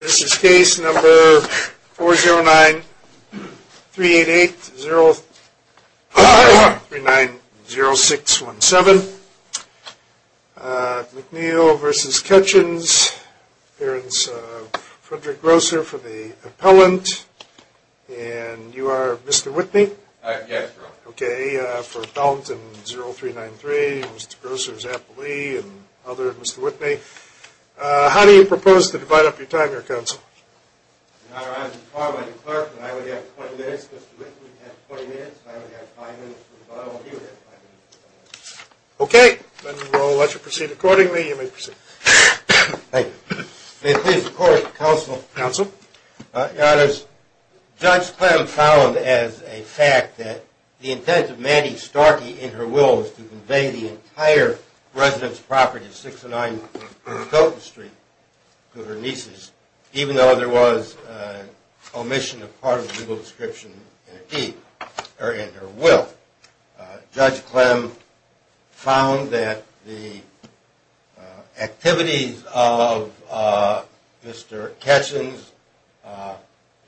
This is case number 409-388-0390617, McNeil v. Ketchens, appearance of Frederick Grosser for the appellant, and you are Mr. Whitney? Yes, sir. Okay, for appellant 0393, Mr. Grosser's appellee, and other Mr. Whitney. How do you propose to divide up your time, your counsel? In honor of the department, I would have 20 minutes, Mr. Whitney would have 20 minutes, and I would have 5 minutes for the bottom, and he would have 5 minutes for the top. Okay, then we'll let you proceed accordingly, you may proceed. Thank you. May it please the court, counsel, your honors, Judge Clem found as a fact that the intent of Mandy Starkey in her will was to convey the entire residence property of 609 Milton Street to her nieces, even though there was an omission of part of the legal description in her deed, in her will. Judge Clem found that the activities of Mr. Ketchens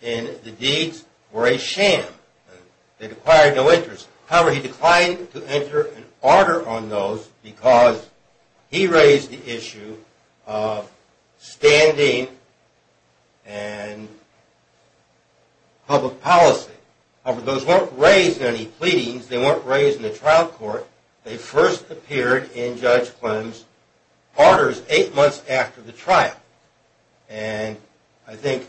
in the deeds were a sham, they required no interest. However, he declined to enter an order on those, because he raised the issue of standing and public policy. However, those weren't raised in any pleadings, they weren't raised in the trial court, they first appeared in Judge Clem's orders 8 months after the trial, and I think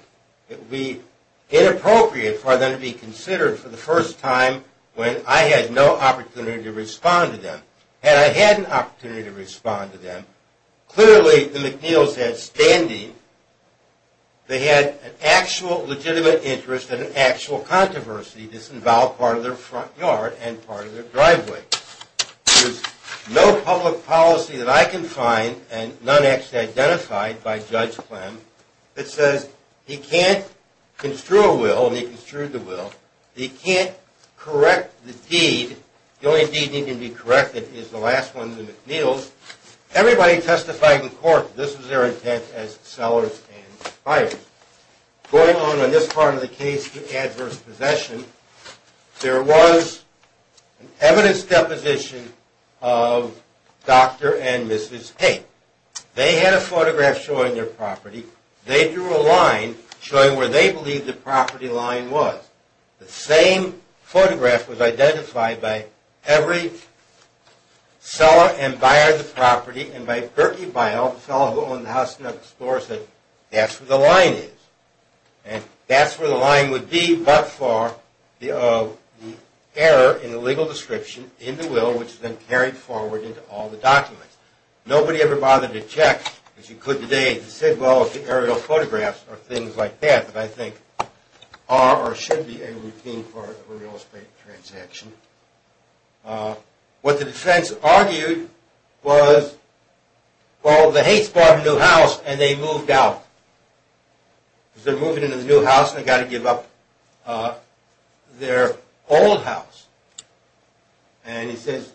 it would be inappropriate for them to be considered for the first time when I had no opportunity to respond to them. Had I had an opportunity to respond to them, clearly the McNeils had standing, they had an actual legitimate interest and an actual controversy that involved part of their front yard and part of their driveway. There's no public policy that I can find, and none actually identified by Judge Clem, that says he can't construe a will, and he construed the will, he can't correct the deed, the only deed that can be corrected is the last one, the McNeils. Everybody testified in court that this was their intent as sellers and buyers. Going on in this part of the case, adverse possession, there was an evidence deposition of Dr. and Mrs. Haight. They had a photograph showing their property, they drew a line showing where they believed the property line was. The same photograph was identified by every seller and buyer of the property, and by Bertie Bile, the fellow who owned the house next door, said that's where the line is, and that's where the line would be, but for the error in the legal description in the will, which then carried forward into all the documents. Nobody ever bothered to check, as you could today, and said well if the aerial photographs are things like that, that I think are or should be a routine part of a real estate transaction. What the defense argued was, well the Haights bought a new house and they moved out. As they're moving into the new house, they've got to give up their old house, and he says,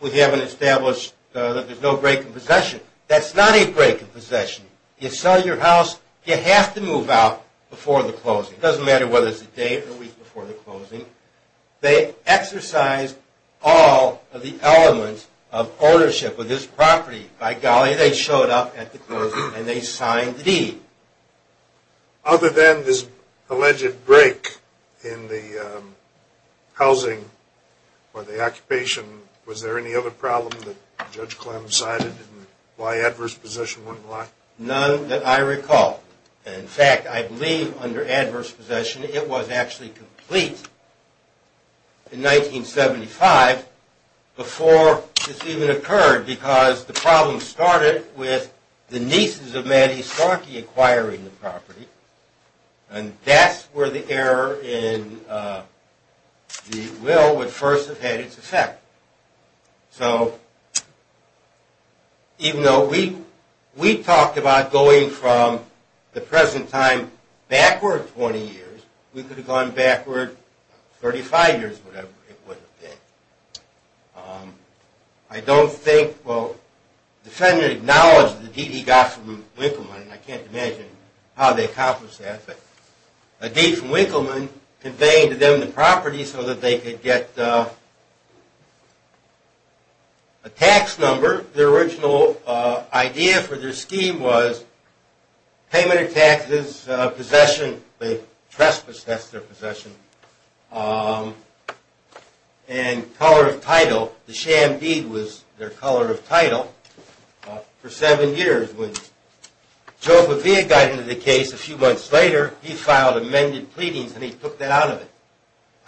we haven't established that there's no break in possession. That's not a break in possession. You sell your house, you have to move out before the closing. It doesn't matter whether it's a week before the closing. They exercised all of the elements of ownership of this property. By golly, they showed up at the closing and they signed the deed. Other than this alleged break in the housing or the occupation, was there any other problem that Judge Clem decided why adverse possession wasn't allowed? None that I recall. In fact, I believe under adverse possession it was actually complete in 1975 before this even occurred, because the problem started with the nieces of Mattie Starkey acquiring the property, and that's where the error in the will would first have had its effect. So even though we talked about going from the present time backward 20 years, we could have gone backward 35 years, whatever it would have been. I don't think, well, the defendant acknowledged the deed he got from Winkleman, and I can't imagine how they accomplished that, but a deed from Winkleman conveyed to them the property so that they could get a tax number. Their original idea for their scheme was payment of taxes, possession, trespass, that's their possession, and color of title. The sham deed was their color of title for seven years. When Joe Bavia got into the case a few months later, he filed amended pleadings and he took that out of it.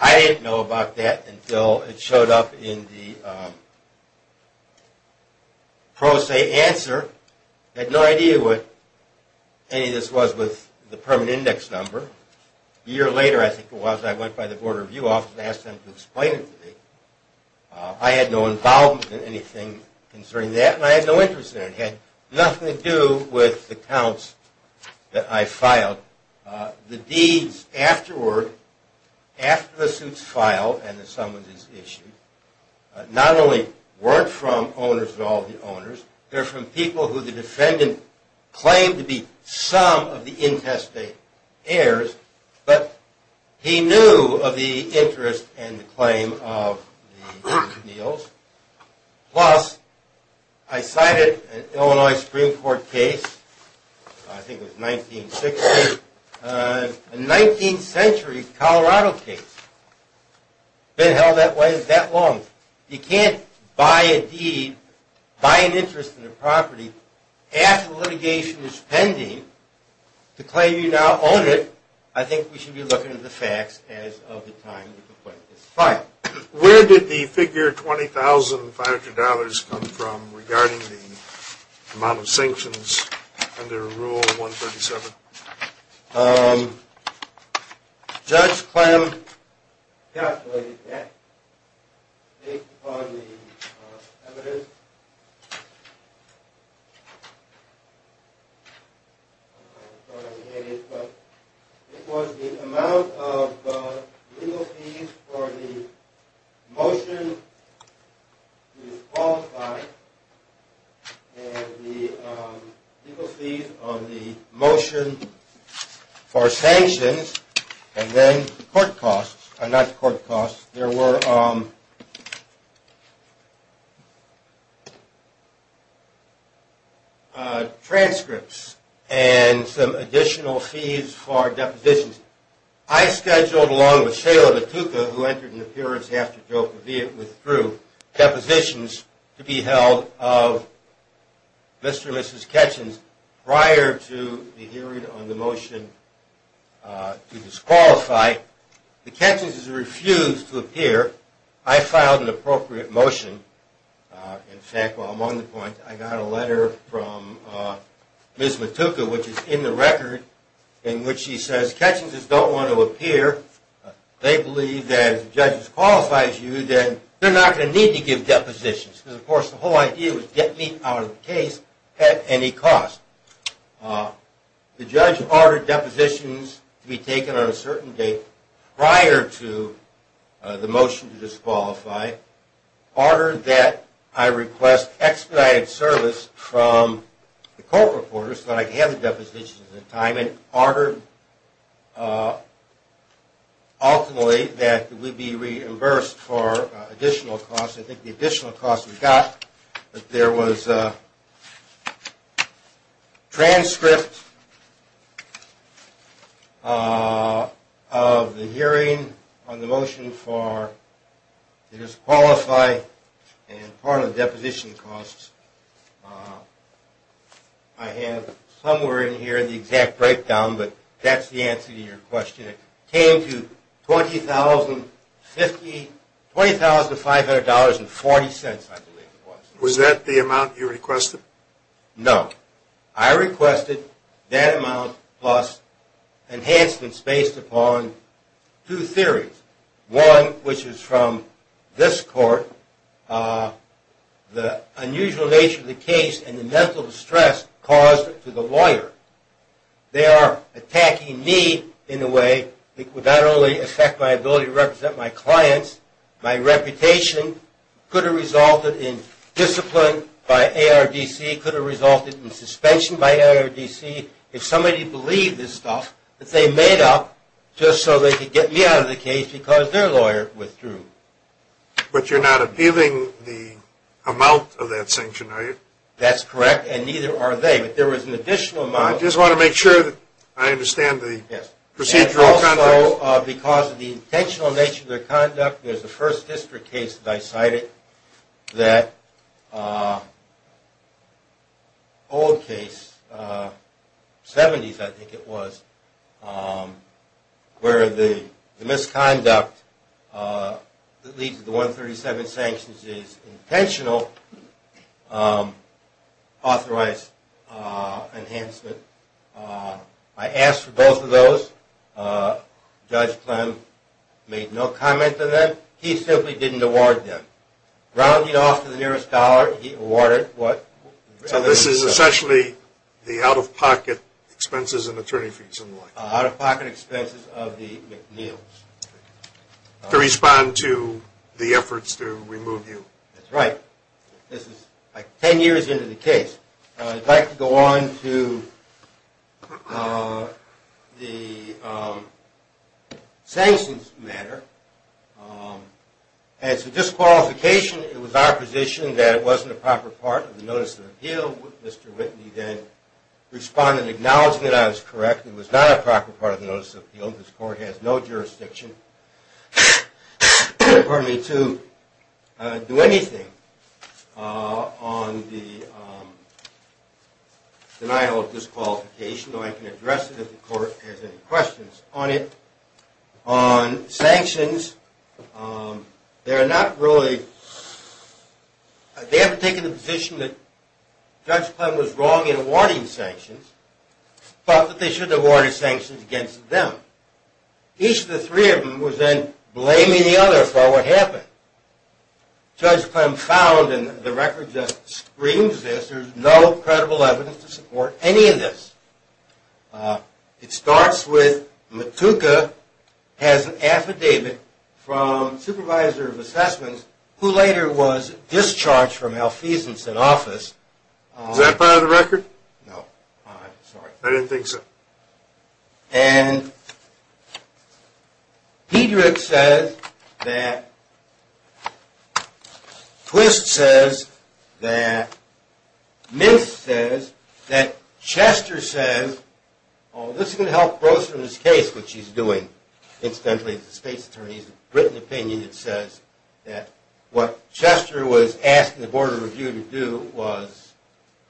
I didn't know about that until it showed up in the pro se answer. I had no idea what any of this was with the permanent index number. A year later, I think it was, I went by the board review office and asked them to explain it to me. I had no involvement in anything concerning that, and I had no interest in it. Nothing to do with the counts that I filed. The deeds afterward, after the suits filed and the summonses issued, not only weren't from owners of all the owners, they're from people who the defendant claimed to be some of the intestate heirs, but he knew of the Illinois Supreme Court case, I think it was 1960, a 19th century Colorado case. Been held that way that long. You can't buy a deed, buy an interest in a property after litigation is pending, to claim you now own it, I think we should be looking at the facts as of the time of the claim. Where did the figure $20,500 come from regarding the amount of sanctions under Rule 137? Judge Clem calculated that based upon the evidence. It was the amount of legal fees for the motion to disqualify and the legal fees on the motion for sanctions and then court costs, not court costs, there were transcripts and some additional fees for depositions. I scheduled along with the hearing on the motion to disqualify. The catchings refused to appear. I filed an appropriate motion. In fact, while I'm on the point, I got a letter from Ms. Matuka, which is in the record, in which she says, catchings don't want to appear. They believe that if the judge disqualifies you, then they're not going to need to give depositions. Of course, the whole idea was get me out of the case at any cost. The judge ordered depositions to be taken on a certain date prior to the motion to I don't think the additional costs we got, but there was a transcript of the hearing on the motion for disqualify and part of the deposition costs. I have somewhere in here the exact breakdown, but that's the answer to your question. It came to $20,500.40, I believe it was. Was that the amount you requested? No. I requested that amount plus enhancements based upon two theories. One, which is from this court, the unusual nature of the case and the mental distress caused to the lawyer. They are attacking me in a way that would not only affect my ability to represent my clients, my reputation, could have resulted in discipline by ARDC, could have resulted in suspension by ARDC, if somebody believed this stuff that they made up just so they could get me out of the case because their lawyer withdrew. But you're not appealing the amount of that sanction, are you? That's correct, and neither are they. But there was an additional amount. I just want to make sure that I understand the procedural context. So because of the intentional nature of their conduct, there's the first district case that I cited, that old case, 70s I think it was, where the misconduct that leads to the 137 sanctions is intentional authorized enhancement. I asked for both of those. Judge Clem made no comment to them. He simply didn't award them. Rounding off to the nearest dollar, he awarded what? So this is essentially the out-of-pocket expenses and attorney fees and what? Out-of-pocket expenses of the McNeil's. To respond to the efforts to remove you. That's right. This is like 10 years into the case. I'd like to go on to the sanctions matter. As for disqualification, it was our position that it wasn't a proper part of the notice of appeal. Mr. Whitney then responded acknowledging that I was correct. It was not a proper part of the notice of appeal. This court has no jurisdiction to do anything on the denial of disqualification. I can address it if the court has any questions on it. Judge Clem was wrong in awarding sanctions, but they shouldn't have awarded sanctions against them. Each of the three of them was then blaming the other for what happened. Judge Clem found, and the record just screams this, there's no credible evidence to support any of this. It starts with Matuka has an affidavit from supervisor of assessments who later was discharged from Alfiezenson's office. Is that part of the record? No. I didn't think so. And Pedrick says that, Twist says that, Mintz says that, Chester says, oh this is going to help Broson in his case, which he's doing incidentally as a state's attorney, he's a written opinion that says that what Chester was asking the board of review to do was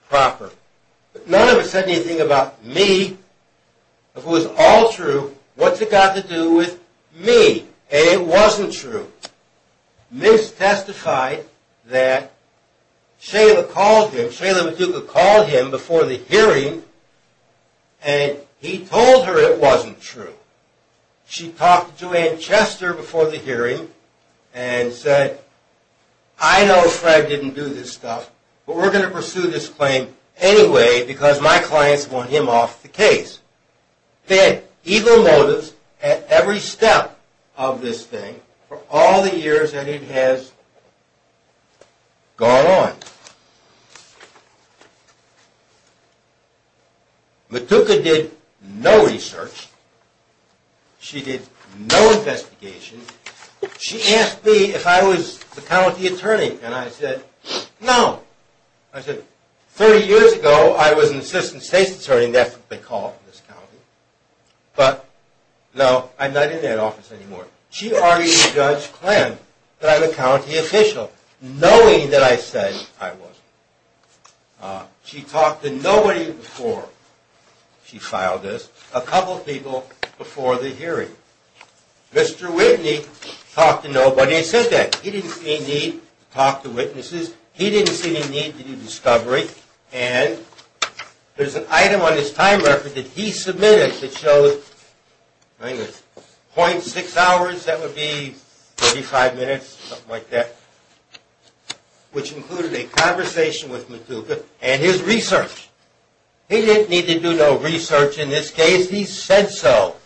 proper. None of it said anything about me. If it was all true, what's it got to do with me? It wasn't true. Mintz testified that Shayla called him, Shayla Matuka called him before the hearing and he told her it wasn't true. She talked to Joanne Chester before the hearing and said, I know Fred didn't do this stuff, but we're going to pursue this claim anyway because my clients want him off the case. They had evil motives at every step of this thing for all the years that it has gone on. Matuka did no research, she did no investigation, she asked me if I was the county attorney and I said no. I said 30 years ago I was an assistant state's attorney, that's what they call it in this county, but no I'm not in that office anymore. She argued with Judge Klan that I'm a county official knowing that I said I wasn't. She talked to nobody before she filed this, a couple people before the hearing. Mr. Whitney talked to nobody and said that. He didn't see any need to talk to witnesses, he didn't see any need to do discovery, and there's an item on his time record that he submitted that shows .6 hours, that would be 45 minutes, something like that, which included a conversation with Matuka and his research. He didn't need to do no research in this case, he said so.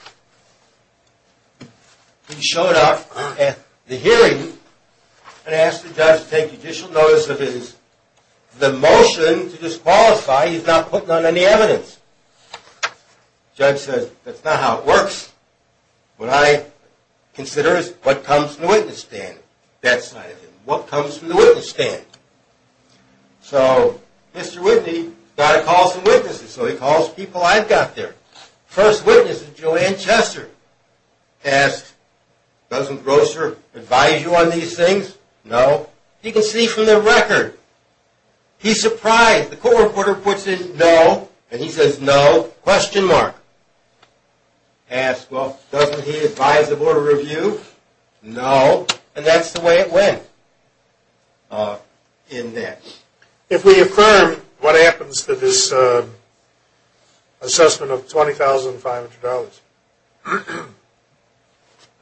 He showed up at the hearing and asked the judge to take judicial notice of the motion to disqualify, he's not putting on any evidence. The judge said that's not how it works, what I consider is what comes from the witness stand, that side of it, what comes from the witness stand. So Mr. Whitney got to call some witnesses, so he calls people I've got there. First witness is Joanne Chester, asked doesn't Grosser advise you on these things, no. He can see from the record, he's surprised. The court reporter puts in no, and he says no, question mark. Asked well doesn't he advise the board of review, no, and that's the way it went in that. If we affirm, what happens to this assessment of $20,500?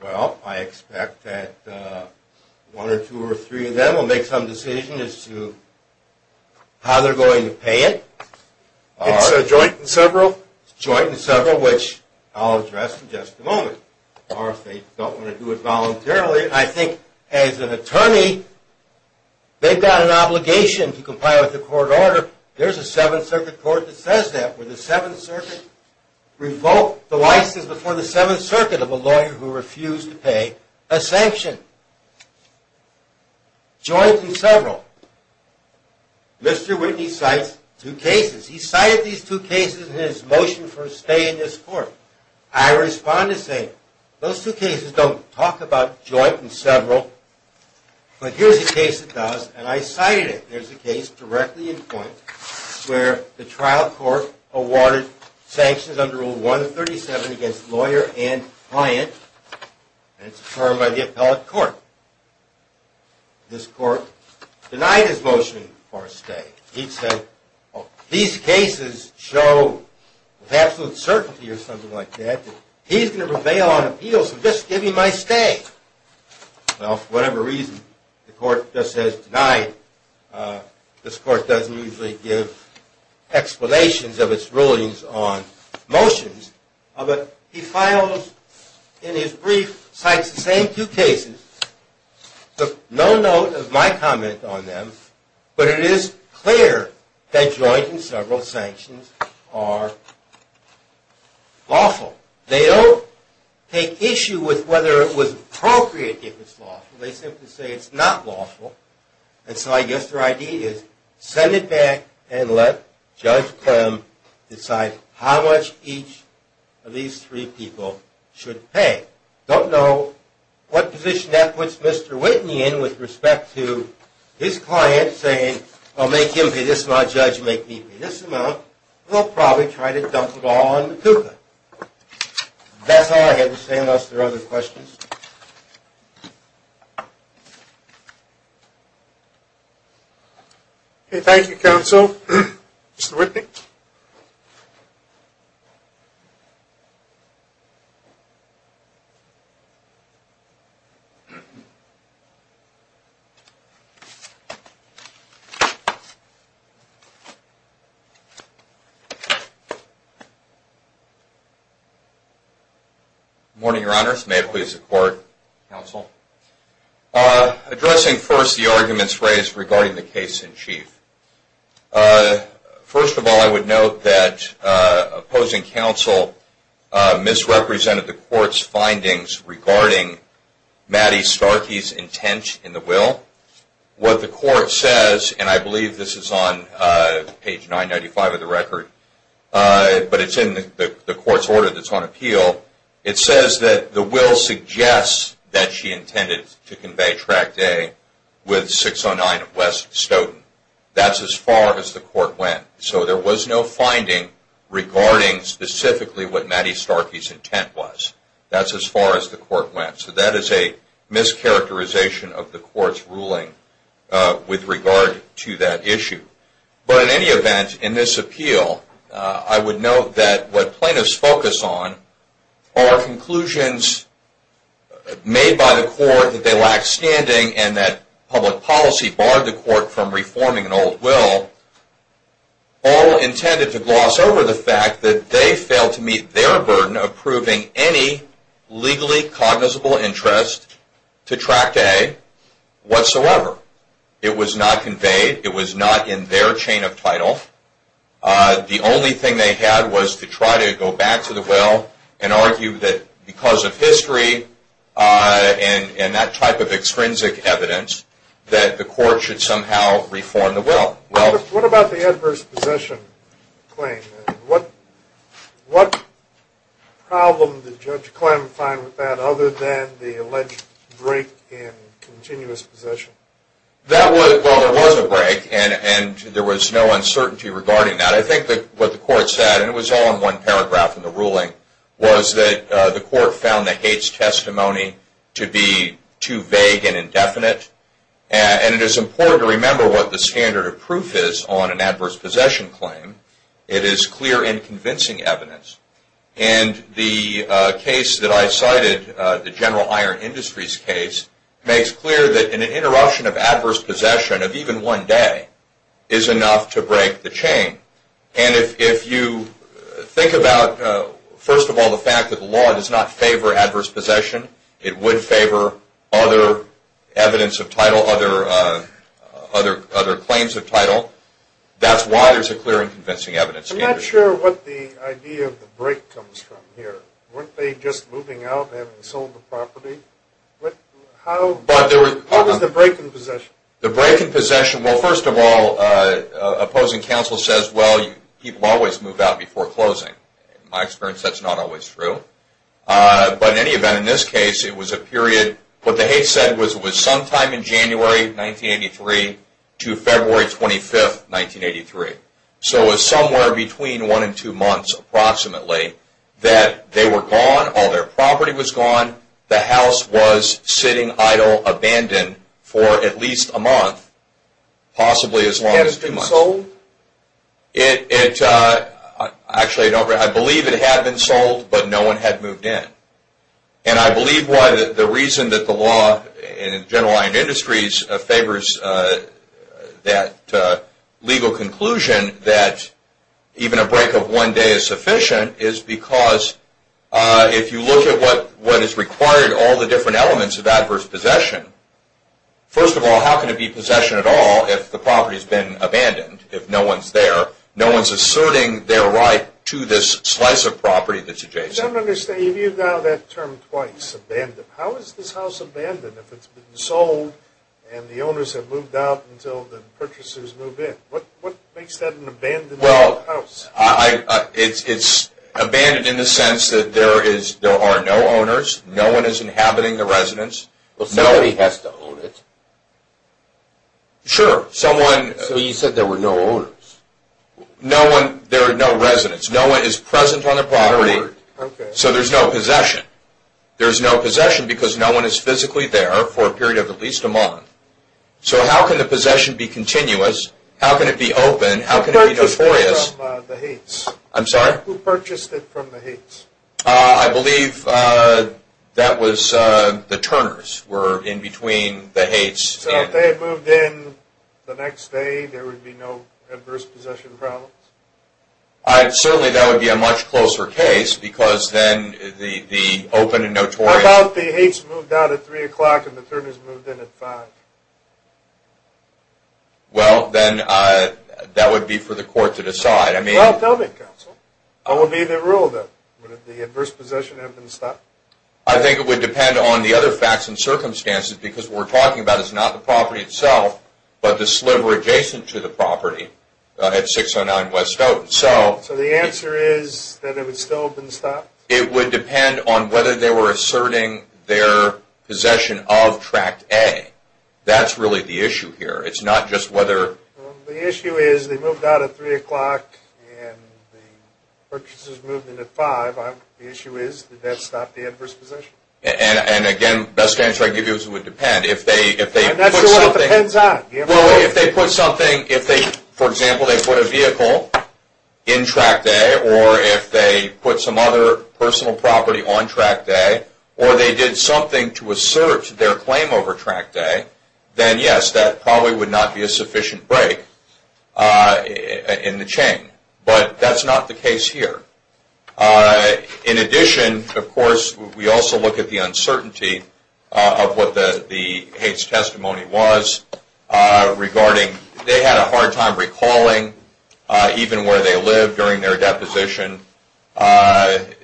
Well, I expect that one or two or three of them will make some decision as to how they're going to pay it. It's a joint and several? Joint and several, which I'll address in just a moment, or if they don't want to do it voluntarily. I think as an attorney, they've got an obligation to comply with the court order. There's a 7th Circuit Court that says that, where the 7th Circuit revoked the license before the 7th Circuit of a lawyer who refused to pay a sanction. Joint and several, Mr. Whitney cites two cases. He cited these two cases in his motion for a stay in this court. I respond to say, those two cases don't talk about joint and several, but here's a case that does, and I cited it. There's a case directly in point where the trial court awarded sanctions under Rule 137 against lawyer and client, and it's affirmed by the appellate court. This court denied his motion for a stay. He said, these cases show with absolute certainty or something like that, that he's going to prevail on appeals for just giving my stay. Well, for whatever reason, the court just says, denied. This court doesn't usually give explanations of its rulings on motions, but he filed in his brief, cites the same two cases, took no note of my comment on them, but it is clear that joint and several sanctions are lawful. They don't take issue with whether it was appropriate if it's lawful. They simply say it's not lawful, and so I guess their idea is, send it back and let Judge Clem decide how much each of these three people should pay. Don't know what position that puts Mr. Whitney in with respect to his client saying, well, make him pay this amount, Judge, make me pay this amount. We'll probably try to dump it all on the cougar. That's all I had to say unless there are other questions. Okay, thank you, counsel. Mr. Whitney? Good morning, Your Honor. May it please the court, counsel. Addressing first the arguments raised regarding the case in chief, first of all, I would note that opposing counsel misrepresented the court's findings regarding Maddie Starkey's intent in the will. What the court says, and I believe this is on page 995 of the record, but it's in the court's order that's on appeal, it says that the will suggests that she intended to convey Track Day with 609 of West Stoughton. That's as far as the court went. So there was no finding regarding specifically what Maddie Starkey's intent was. That's as far as the court went. So that is a mischaracterization of the court's ruling with regard to that issue. But in any event, in this appeal, I would note that what plaintiffs focus on are conclusions made by the court that they lack standing and that public policy barred the court from reforming an old will, all intended to gloss over the fact that they failed to meet their burden of proving any legally cognizable interest to Track Day whatsoever. It was not conveyed. It was not in their chain of title. The only thing they had was to try to go back to the will and argue that because of history and that type of extrinsic evidence, that the court should somehow reform the will. What about the adverse possession claim? What problem did Judge Klem find with that other than the alleged break in continuous possession? Well, there was a break, and there was no uncertainty regarding that. I think that what the court said, and it was all in one paragraph in the ruling, was that the court found that Haight's testimony to be too vague and indefinite. And it is important to remember what the standard of proof is on an adverse possession claim. It is clear and convincing evidence. And the case that I cited, the General Iron Industries case, makes clear that an interruption of adverse possession of even one day is enough to break the chain. And if you think about, first of all, the fact that the law does not favor adverse possession, it would favor other evidence of title, other claims of title, that's why there's a clear and convincing evidence standard. I'm not sure what the idea of the break comes from here. Weren't they just moving out and having sold the property? What was the break in possession? The break in possession, well, first of all, opposing counsel says, well, people always move out before closing. In my experience, that's not always true. But in any event, in this case, it was a period, what the Haight said was it was sometime in January 1983 to February 25th, 1983. So it was somewhere between one and two months, approximately, that they were gone, all their property was gone, the house was sitting idle, abandoned for at least a month, possibly as long as two months. Had it not been sold? It, actually, I believe it had been sold, but no one had moved in. And I believe why the reason that the law in general iron industries favors that legal conclusion that even a break of one day is sufficient is because if you look at what is required, all the different elements of adverse possession, first of all, how can it be possession at all if the property has been abandoned, if no one's there? No one's asserting their right to this slice of property that's adjacent. I don't understand. You've used now that term twice, abandoned. How is this house abandoned if it's been sold and the owners have moved out until the purchasers move in? What makes that an abandoned house? Well, it's abandoned in the sense that there are no owners, no one is inhabiting the residence. Well, somebody has to own it. Sure, someone. So you said there were no owners? No one, there are no residents. No one is present on the property. So there's no possession. There's no possession because no one is physically there for a period of at least a month. So how can the possession be continuous? How can it be open? How can it be notorious? Who purchased it from the Hates? I'm sorry? Who purchased it from the Hates? I believe that was the Turners were in between the Hates. So if they had moved in the next day, there would be no adverse possession problems? Certainly, that would be a much closer case because then the open and notorious... How about the Hates moved out at three o'clock and the Turners moved in at five? Well, then that would be for the court to decide. I mean... Well, tell me, counsel. I would be the rule then. Would the adverse possession have been stopped? I think it would depend on the other facts and circumstances because what we're talking about is not the property itself, but the sliver adjacent to the property at 609 West Stoughton. So... So the answer is that it would still have been stopped? It would depend on whether they were asserting their possession of Tract A. That's really the issue here. It's not just whether... The issue is they moved out at three o'clock and the Purchasers moved in at five. The issue is, did that stop the adverse possession? And again, the best answer I'd give you is it would depend. If they put something... That's what it depends on. Well, if they put something... If they, for example, they put a vehicle in Tract A or if they put some other personal property on Tract A or they did something to assert their claim over Tract A, then yes, that probably would not be a sufficient break in the chain. But that's not the case here. In addition, of course, we also look at the uncertainty of what the hates testimony was regarding... They had a hard time recalling even where they lived during their deposition and,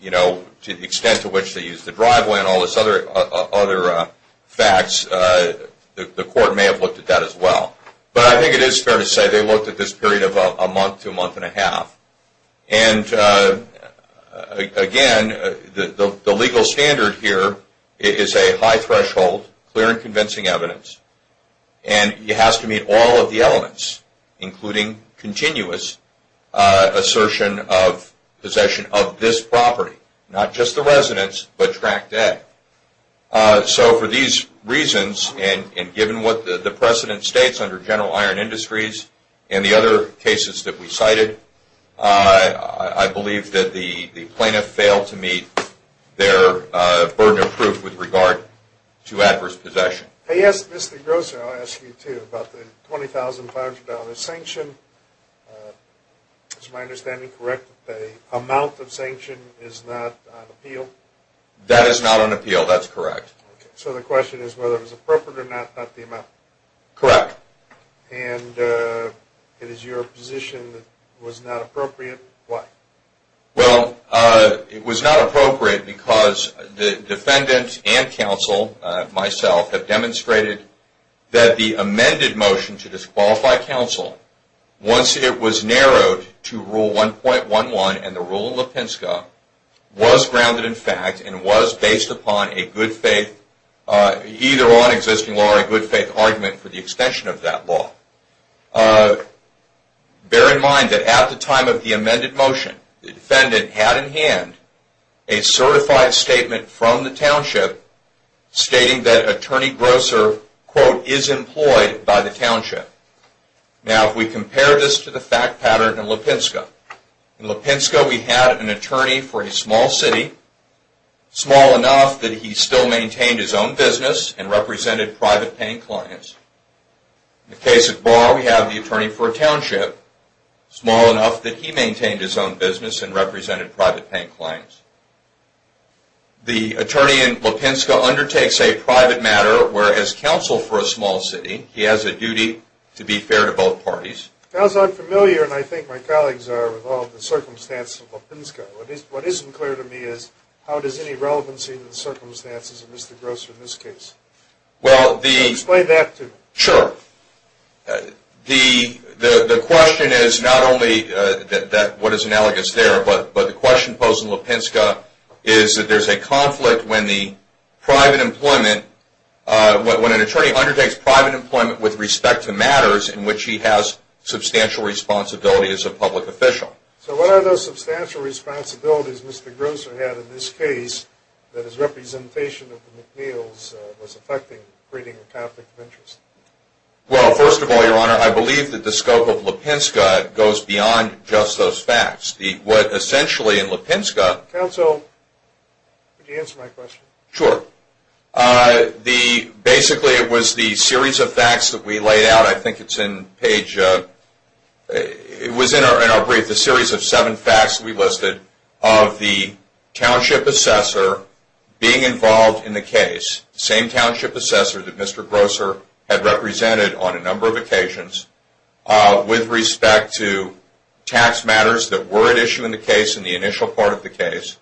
you know, to the extent to which they used the driveway and all this other facts. The court may have looked at that as well. But I think it is fair to say they looked at this period of a month to a month and a half. And again, the legal standard here is a high threshold, clear and convincing evidence, and it has to meet all of the elements, including continuous assertion of possession of this property, not just the residence, but Tract A. So for these reasons, and given what the precedent states under General Iron Industries and the other cases that we cited, I believe that the plaintiff failed to meet their burden of proof with regard to adverse possession. Yes, Mr. Grosser, I'll ask you too about the $20,500 sanction. Is my understanding correct that the amount of sanction is not on appeal? That is not on appeal. That's correct. So the question is whether it was appropriate or not, not the amount. Correct. And it is your position that it was not appropriate. Why? Well, it was not appropriate because the defendant and counsel, myself, have demonstrated that the amended motion to disqualify counsel, once it was narrowed to Rule 1.11 and the Rule in Lipinska, was grounded in fact and was based upon a good faith, either on existing law or a good faith argument for the extension of that law. Bear in mind that at the time of the amended motion, the defendant had in hand a certified statement from the township stating that Attorney Grosser, quote, is employed by the township. Now, if we compare this to the fact pattern in Lipinska. In Lipinska, we had an attorney for a small city small enough that he still maintained his own business and represented private paying clients. In the case of Barr, we have the attorney for a township small enough that he maintained his own business and represented private paying clients. The attorney in Lipinska undertakes a private matter where as counsel for a small city, he has a duty to be fair to both parties. That was unfamiliar and I think my colleagues are with all the circumstances of Lipinska. What isn't clear to me is how does any relevancy in the circumstances of Mr. Grosser in this case? Well, the... Explain that to me. Sure. The question is not only that what is analogous there, but the question posed in Lipinska is that there's a conflict when the private employment when an attorney undertakes private employment with respect to matters in which he has substantial responsibility as a public official. So what are those substantial responsibilities Mr. Grosser had in this case that his representation of the McNeils was affecting creating a conflict of interest? Well, first of all, your honor, I believe that the scope of Lipinska goes beyond just those facts. The... What essentially in Lipinska... Counsel, could you answer my question? Sure. The... Basically, it was the series of facts that we laid out. I think it's in page... It was in our brief, the series of seven facts we listed of the township assessor being involved in the case, same township assessor that Mr. Grosser had represented on a number of occasions with respect to tax matters that were at issue in the case in the initial part of the case.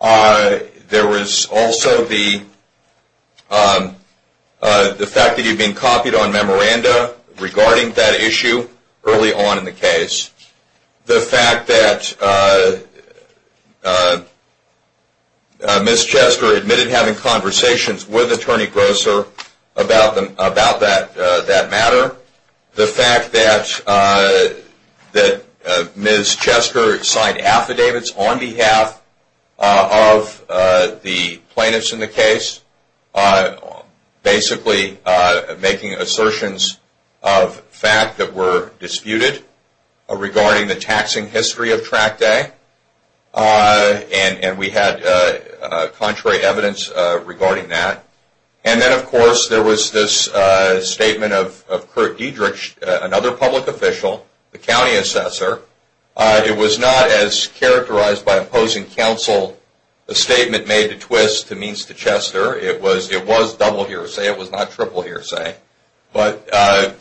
There was also the... The fact that he'd been copied on memoranda regarding that issue early on in the case. The fact that... Ms. Chester admitted having conversations with Attorney Grosser about that matter. The fact that Ms. Chester signed affidavits on behalf of the plaintiffs in the case, basically making assertions of fact that were disputed regarding the taxing history of Track Day. And we had contrary evidence regarding that. And then, of course, there was this statement of Kurt Diedrich, another public official, the county assessor. It was not as characterized by opposing counsel. The statement made a twist to means to Chester. It was double hearsay. It was not triple hearsay. But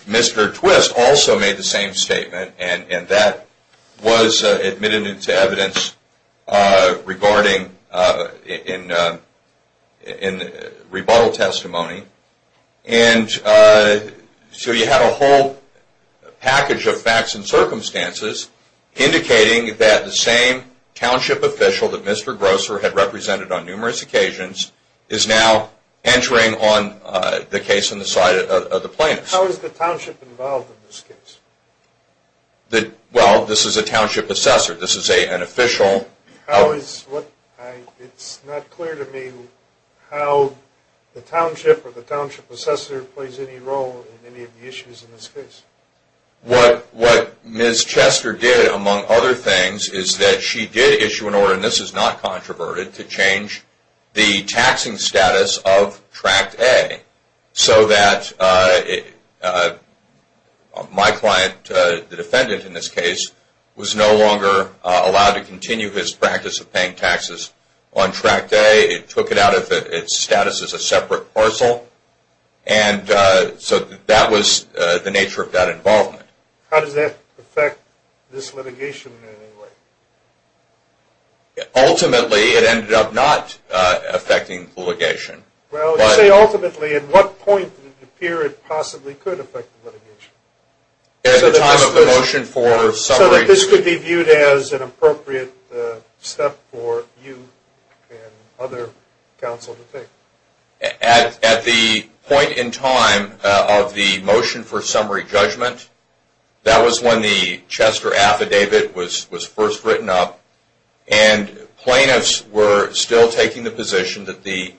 Mr. Twist also made the same statement, and that was admitted into evidence regarding in rebuttal testimony. And so you have a whole package of facts and circumstances indicating that the same township official that Mr. Grosser had represented on numerous occasions is now entering on the case on the side of the plaintiffs. How is the township involved in this case? Well, this is a township assessor. This is an official. It's not clear to me how the township or the township assessor plays any role in any of the issues in this case. What Ms. Chester did, among other things, is that she did issue an order, and this is not controverted, to change the taxing status of Track Day. So that my client, the defendant in this case, was no longer allowed to continue his practice of paying taxes on Track Day. It took it out of its status as a separate parcel. And so that was the nature of that involvement. How does that affect this litigation in any way? Ultimately, it ended up not affecting the litigation. Well, you say ultimately. At what point did it appear it possibly could affect the litigation? At the time of the motion for summary... So that this could be viewed as an appropriate step for you and other counsel to take? At the point in time of the motion for summary judgment, that was when the Chester affidavit was first written up, and plaintiffs were still taking the position that the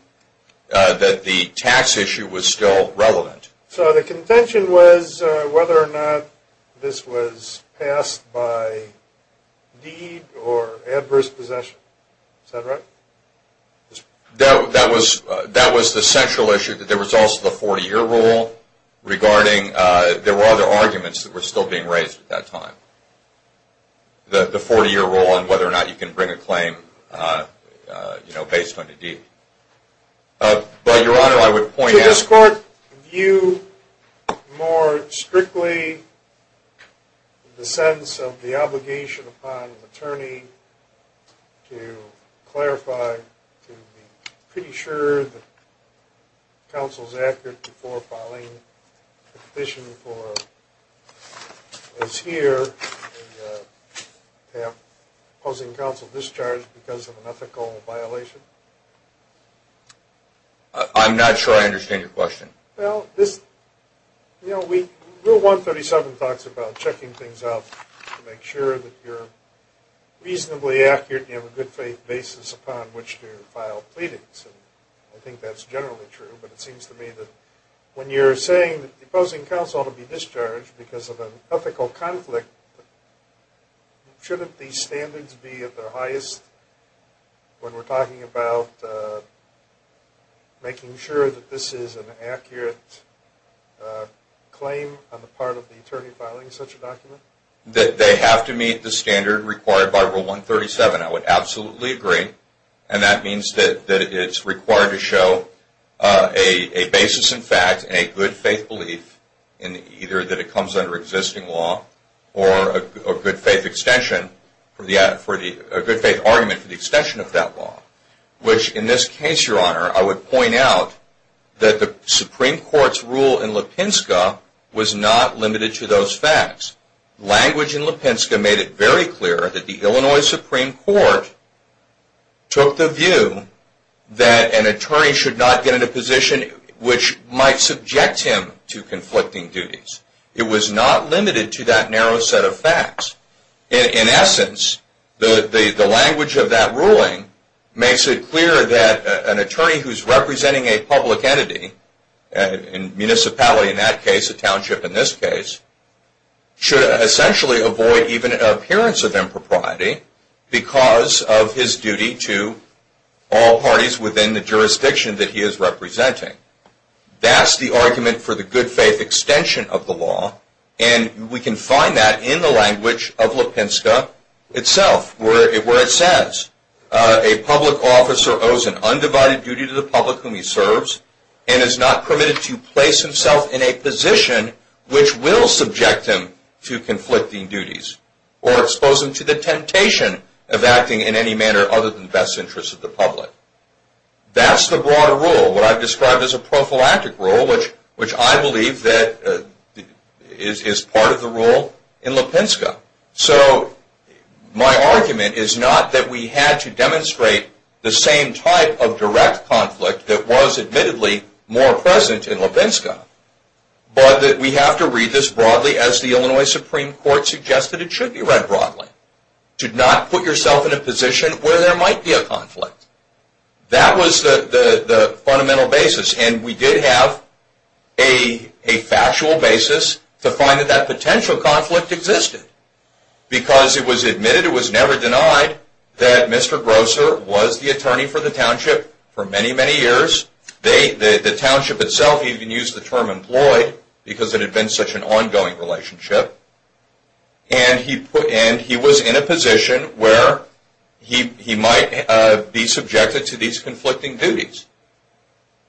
tax issue was still relevant. So the contention was whether or not this was passed by deed or adverse possession? Is that right? That was the central issue, that there was also the 40-year rule regarding... There were other arguments that were still being raised at that time. The 40-year rule on whether or not you can bring a claim based on a deed. But, Your Honor, I would point out... Did this court view more strictly the sense of the obligation upon an attorney to clarify, to be pretty sure that counsel is accurate before filing a petition for... As here, they have opposing counsel discharged because of an ethical violation? I'm not sure I understand your question. Well, Rule 137 talks about checking things out to make sure that you're reasonably accurate and you have a good faith basis upon which to file pleadings. And I think that's generally true, but it seems to me that when you're saying that opposing counsel to be discharged because of an ethical conflict, shouldn't these standards be at their highest when we're talking about making sure that this is an accurate claim on the part of the attorney filing such a document? That they have to meet the standard required by Rule 137, I would absolutely agree. And that means that it's required to show a basis in fact and a good faith belief either that it comes under existing law or a good faith extension or a good faith argument for the extension of that law. Which in this case, Your Honor, I would point out that the Supreme Court's rule in Lipinska was not limited to those facts. Language in Lipinska made it very clear that the Illinois Supreme Court took the view that an attorney should not get into a position which might subject him to conflicting duties. It was not limited to that narrow set of facts. In essence, the language of that ruling makes it clear that an attorney who's representing a public entity, a municipality in that case, a township in this case, should essentially avoid even an appearance of impropriety because of his duty to all parties within the jurisdiction that he is representing. That's the argument for the good faith extension of the law and we can find that in the language of Lipinska itself where it says a public officer owes an undivided duty to the public whom he serves and is not permitted to place himself in a position which will subject him to conflicting duties or expose him to the temptation of acting in any manner other than the best interest of the public. That's the broader rule, what I've described as a prophylactic rule, which I believe is part of the rule in Lipinska. So, my argument is not that we had to demonstrate the same type of direct conflict that was admittedly more present in Lipinska, but that we have to read this broadly as the Illinois Supreme Court suggested it should be read broadly. Do not put yourself in a position where there might be a conflict. That was the fundamental basis and we did have a factual basis to find that that potential conflict existed because it was admitted, it was never denied, that Mr. Grosser was the attorney for the township for many, many years. The township itself, he even used the term employed because it had been such an ongoing relationship and he was in a position where he might be subjected to these conflicting duties.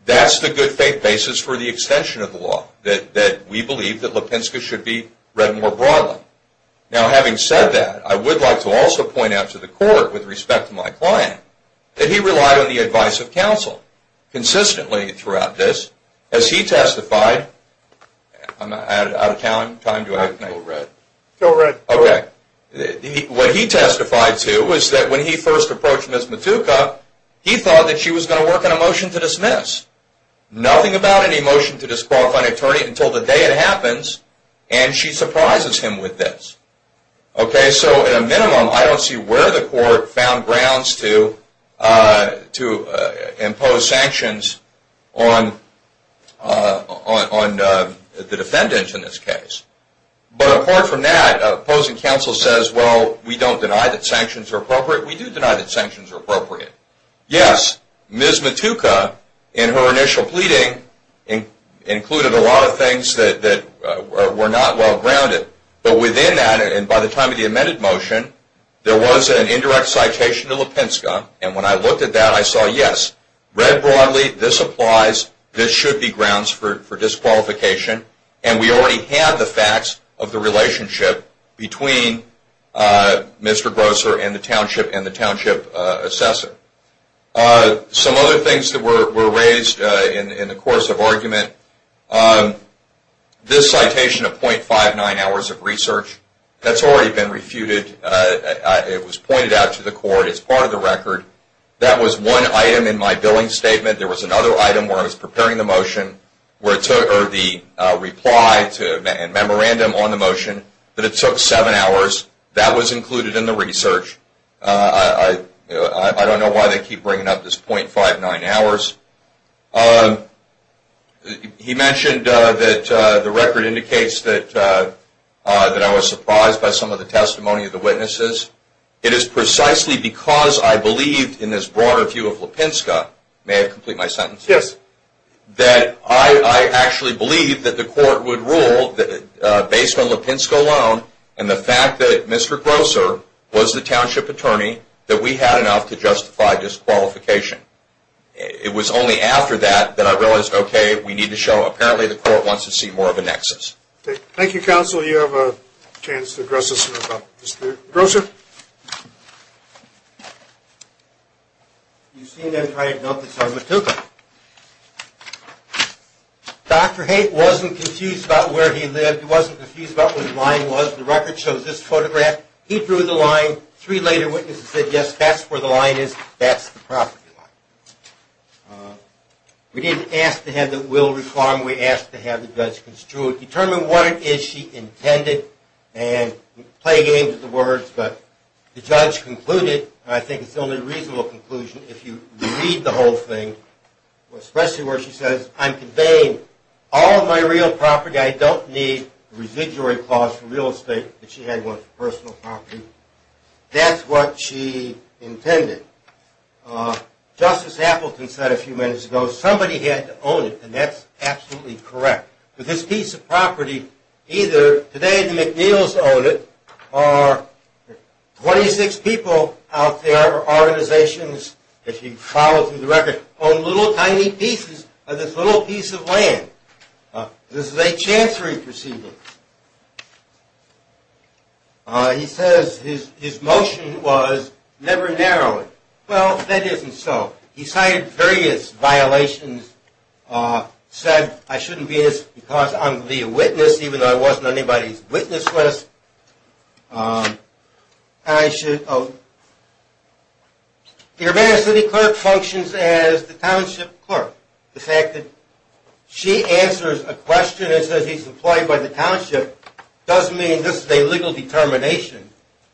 That's the good faith basis for the extension of the law that we believe that Lipinska should be read more broadly. Now, having said that, I would like to also point out to the court with respect to my client that he relied on the advice of counsel consistently throughout this as he testified. I'm out of time. What he testified to was that when he first approached Ms. Matuka, he thought that she was going to work on a motion to dismiss. Nothing about any motion to disqualify an attorney until the day it happens and she surprises him with this. Okay, so at a minimum, I don't see where the court found grounds to impose sanctions on the defendants in this case. But apart from that, opposing counsel says, well, we don't deny that sanctions are appropriate. We do deny that sanctions are appropriate. Yes, Ms. Matuka in her initial pleading included a lot of things that were not well grounded. But within that, and by the time of the amended motion, there was an indirect citation to Lipinska and when I looked at that, I saw, yes, read broadly, this applies, this should be grounds for disqualification and we already have the facts of the relationship between Mr. Grosser and the township and the township assessor. Some other things that were raised in the course of argument on this citation of 0.59 hours of research, that's already been refuted. It was pointed out to the court as part of the record. That was one item in my billing statement. There was another item where I was preparing the motion or the reply and memorandum on the motion, but it took seven hours. That was included in the research. I don't know why they keep bringing up this 0.59 hours. He mentioned that the record indicates that I was surprised by some of the testimony of the witnesses. It is precisely because I believed in this broader view of Lipinska, may I complete my sentence? Yes. That I actually believed that the court would rule that based on Lipinska alone and the fact that Mr. Grosser was the township attorney that we had enough to justify disqualification. It was not just me. It was only after that that I realized, okay, we need to show apparently the court wants to see more of a nexus. Thank you, counsel. You have a chance to address us about Mr. Grosser. You've seen that entire note that's on Matooka. Dr. Haight wasn't confused about where he lived. He wasn't confused about where the line was. The record shows this photograph. He drew the line. Three later witnesses said, yes, that's where the line is. That's the property line. We didn't ask to have the will reform. We asked to have the judge construe it, determine what it is she intended and play games with the words. But the judge concluded, and I think it's only a reasonable conclusion if you read the whole thing, especially where she says, I'm conveying all of my real property. I don't need a residuary clause for real estate that she had one for personal property. That's what she intended. Justice Appleton said a few minutes ago, somebody had to own it, and that's absolutely correct. But this piece of property, either today the McNeills own it or 26 people out there, organizations, if you follow through the record, own little tiny pieces of this little piece of land. This is a chancery proceeding. He says his motion was never narrow it. Well, that isn't so. He cited various violations, said I shouldn't be this because I'm to be a witness even though I wasn't on anybody's witness list. The urban city clerk functions as the township clerk. The fact that she answers a question that says he's employed by the township doesn't mean this is a legal determination.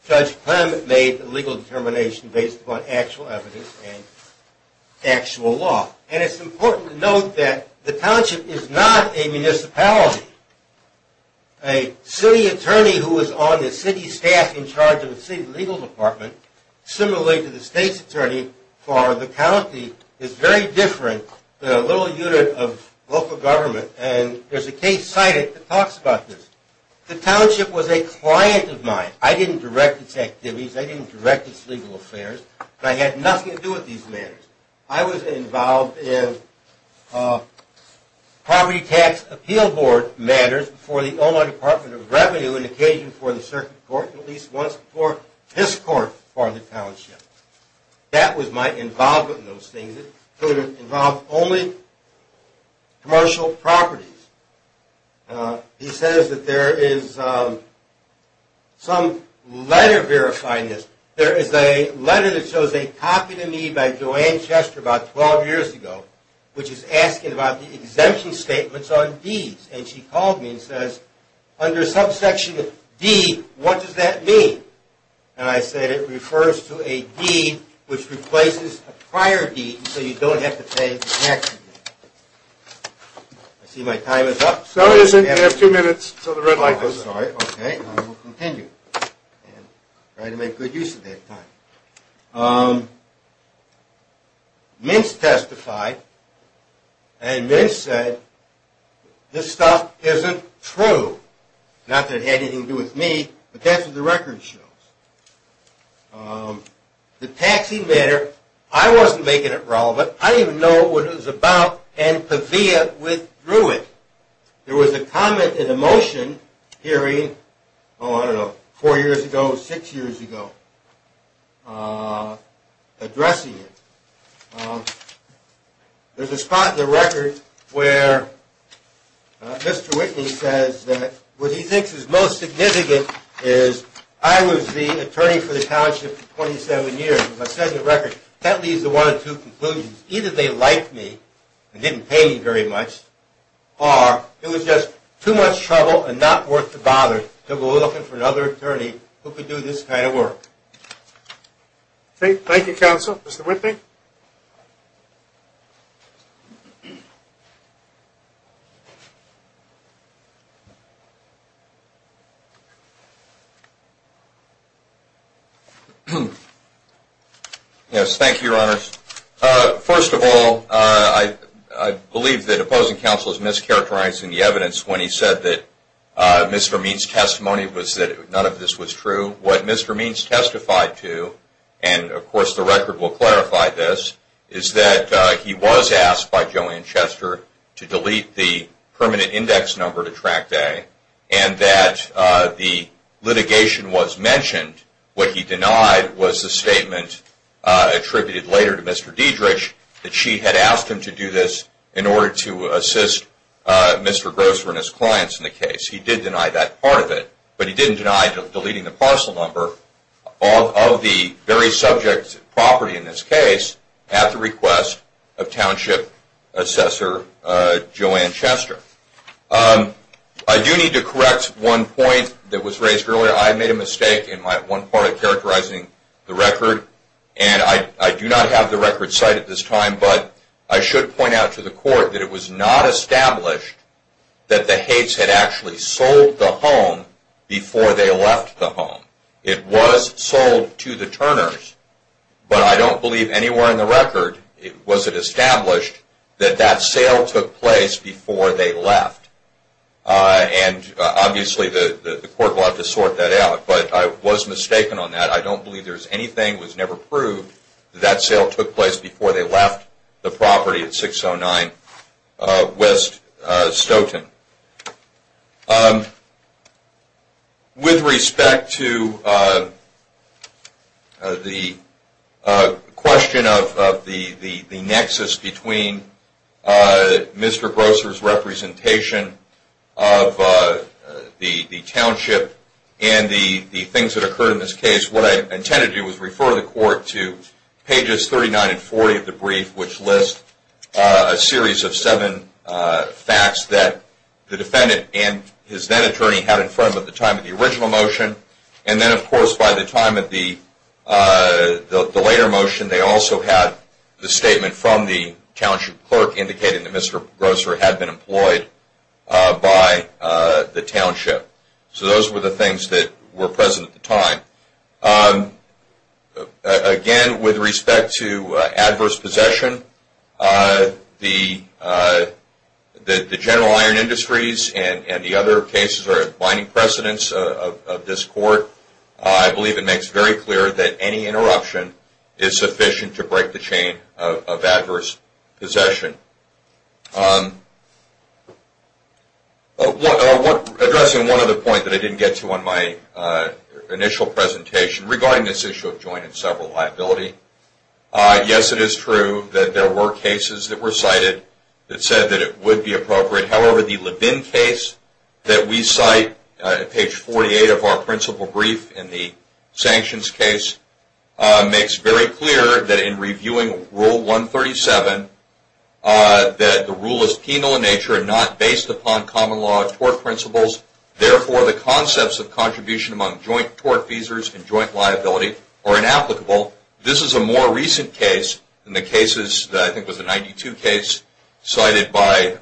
Judge Clement made the legal determination based upon actual evidence and actual law. And it's important to note that the township is not a municipality. A city attorney who is on the city staff in charge of the city legal department, similarly to the state's attorney for the county, is very different than a little unit of local government. And there's a case cited that talks about this. The township was a client of mine. I didn't direct its activities. I didn't direct its legal affairs. But I had nothing to do with these matters. I was involved in poverty tax appeal board matters before the Omaha Department of Revenue and occasionally before the circuit court and at least once before this court for the township. That was my involvement in those things. It would involve only commercial properties. He says that there is some letter verifying this. There is a letter that shows a copy to me by Joanne Chester about 12 years ago, which is asking about the exemption statements on deeds. And she called me and says, under subsection D, what does that mean? And I said, it refers to a deed which replaces a prior deed so you don't have to pay taxes. I see my time is up. No, it isn't. You have two minutes so the red light goes off. OK, I will continue. I tried to make good use of that time. Mintz testified and Mintz said, this stuff isn't true. Not that it had anything to do with me but that's what the record shows. The taxi matter, I wasn't making it relevant. I didn't even know what it was about and Pevea withdrew it. There was a comment in a motion hearing oh, I don't know, four years ago, six years ago, addressing it. There's a spot in the record where Mr. Whitney says that what he thinks is most significant is I was the attorney for the township for 27 years. As I said in the record, that leads to one of two conclusions. Either they liked me and didn't pay me very much or it was just too much trouble and not worth the bother to go looking for another attorney who could do this kind of work. Thank you, counsel. Mr. Whitney? Yes, thank you, your honors. First of all, I believe that opposing counsel is mischaracterizing the evidence when he said that Mr. Means' testimony was that none of this was true. What Mr. Means testified to, and of course the record will clarify this, is that he was asked by Joanne Chester to delete the permanent index number to track day and that the litigation was mentioned. What he denied was the statement attributed later to Mr. Diedrich that she had asked him to do this in order to assist Mr. Grosser and his clients in the case. He did deny that part of it, but he didn't deny deleting the parcel number of the very subject property in this case at the request of township assessor Joanne Chester. I do need to correct one point that was raised earlier. I made a mistake of characterizing the record and I do not have the record cited at this time, but I should point out to the court that it was not established that the Hates had actually sold the home before they left the home. It was sold to the Turners, but I don't believe anywhere in the record was it established that that sale took place before they left. And obviously the court will have to sort that out, but I was mistaken on that. I don't believe there's anything that was never proved that that sale took place before they left the property at 609 West Stoughton. With respect to the question of the nexus between Mr. Grosser's representation of the township and the things that occurred in this case, what I intended to do was refer the court to pages 39 and 40 of the brief, which lists a series of seven facts that the defendant and his then attorney had in front of them at the time of the original motion, and then of course by the time of the later motion they also had the statement from the township clerk indicating that Mr. Grosser had been employed by the township. So those were the things that were present at the time. Again, with respect to adverse possession, the General Iron Industries and the other cases are at blinding precedence of this court. I believe it makes very clear that any interruption is sufficient to break the chain of adverse possession. Addressing one other point that I didn't get to on my initial presentation, regarding this issue of joint and several liability, yes, it is true that there were cases that were cited that said that it would be appropriate. However, the Levin case that we cite at page 48 of our principle brief in the sanctions case makes very clear that in reviewing Rule 137 that the rule is penal in nature and not based upon common law of tort principles. Therefore, the concepts of contribution among joint tort feasors and joint liability are inapplicable. This is a more recent case than the cases that I think was the 1992 case cited by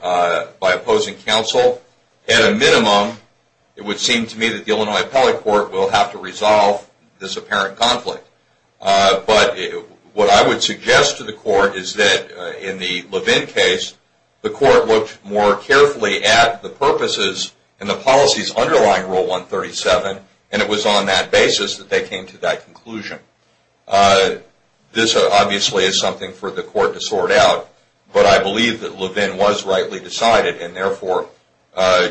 opposing counsel. At a minimum, it would seem to me that the Illinois Appellate Court will have to resolve this apparent conflict. But what I would suggest to the court is that in the Levin case, the court looked more carefully at the purposes and the policies underlying Rule 137 and it was on that basis that they came to that conclusion. This obviously is something for the court to sort out, but I believe that Levin was rightly decided and therefore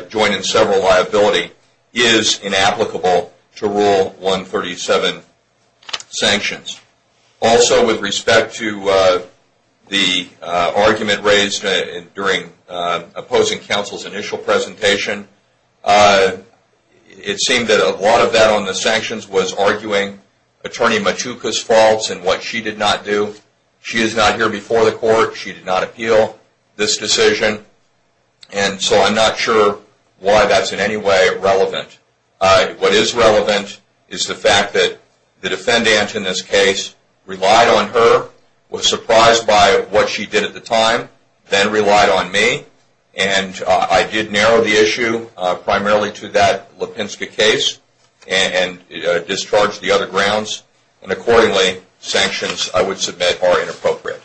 joint and several liability is inapplicable to Rule 137 sanctions. Also, with respect to the argument raised during opposing counsel's initial presentation, it seemed that a lot of that on the sanctions was arguing Attorney Matuka's faults and what she did not do. She is not here before the court. She did not appeal this decision. And so I'm not sure why that's in any way relevant. What is relevant is the fact that the defendant in this case relied on her, was surprised by what she did at the time, then relied on me. And I did narrow the issue primarily to that Lipinska case and discharged the other grounds. And accordingly, sanctions, I would submit, are inappropriate.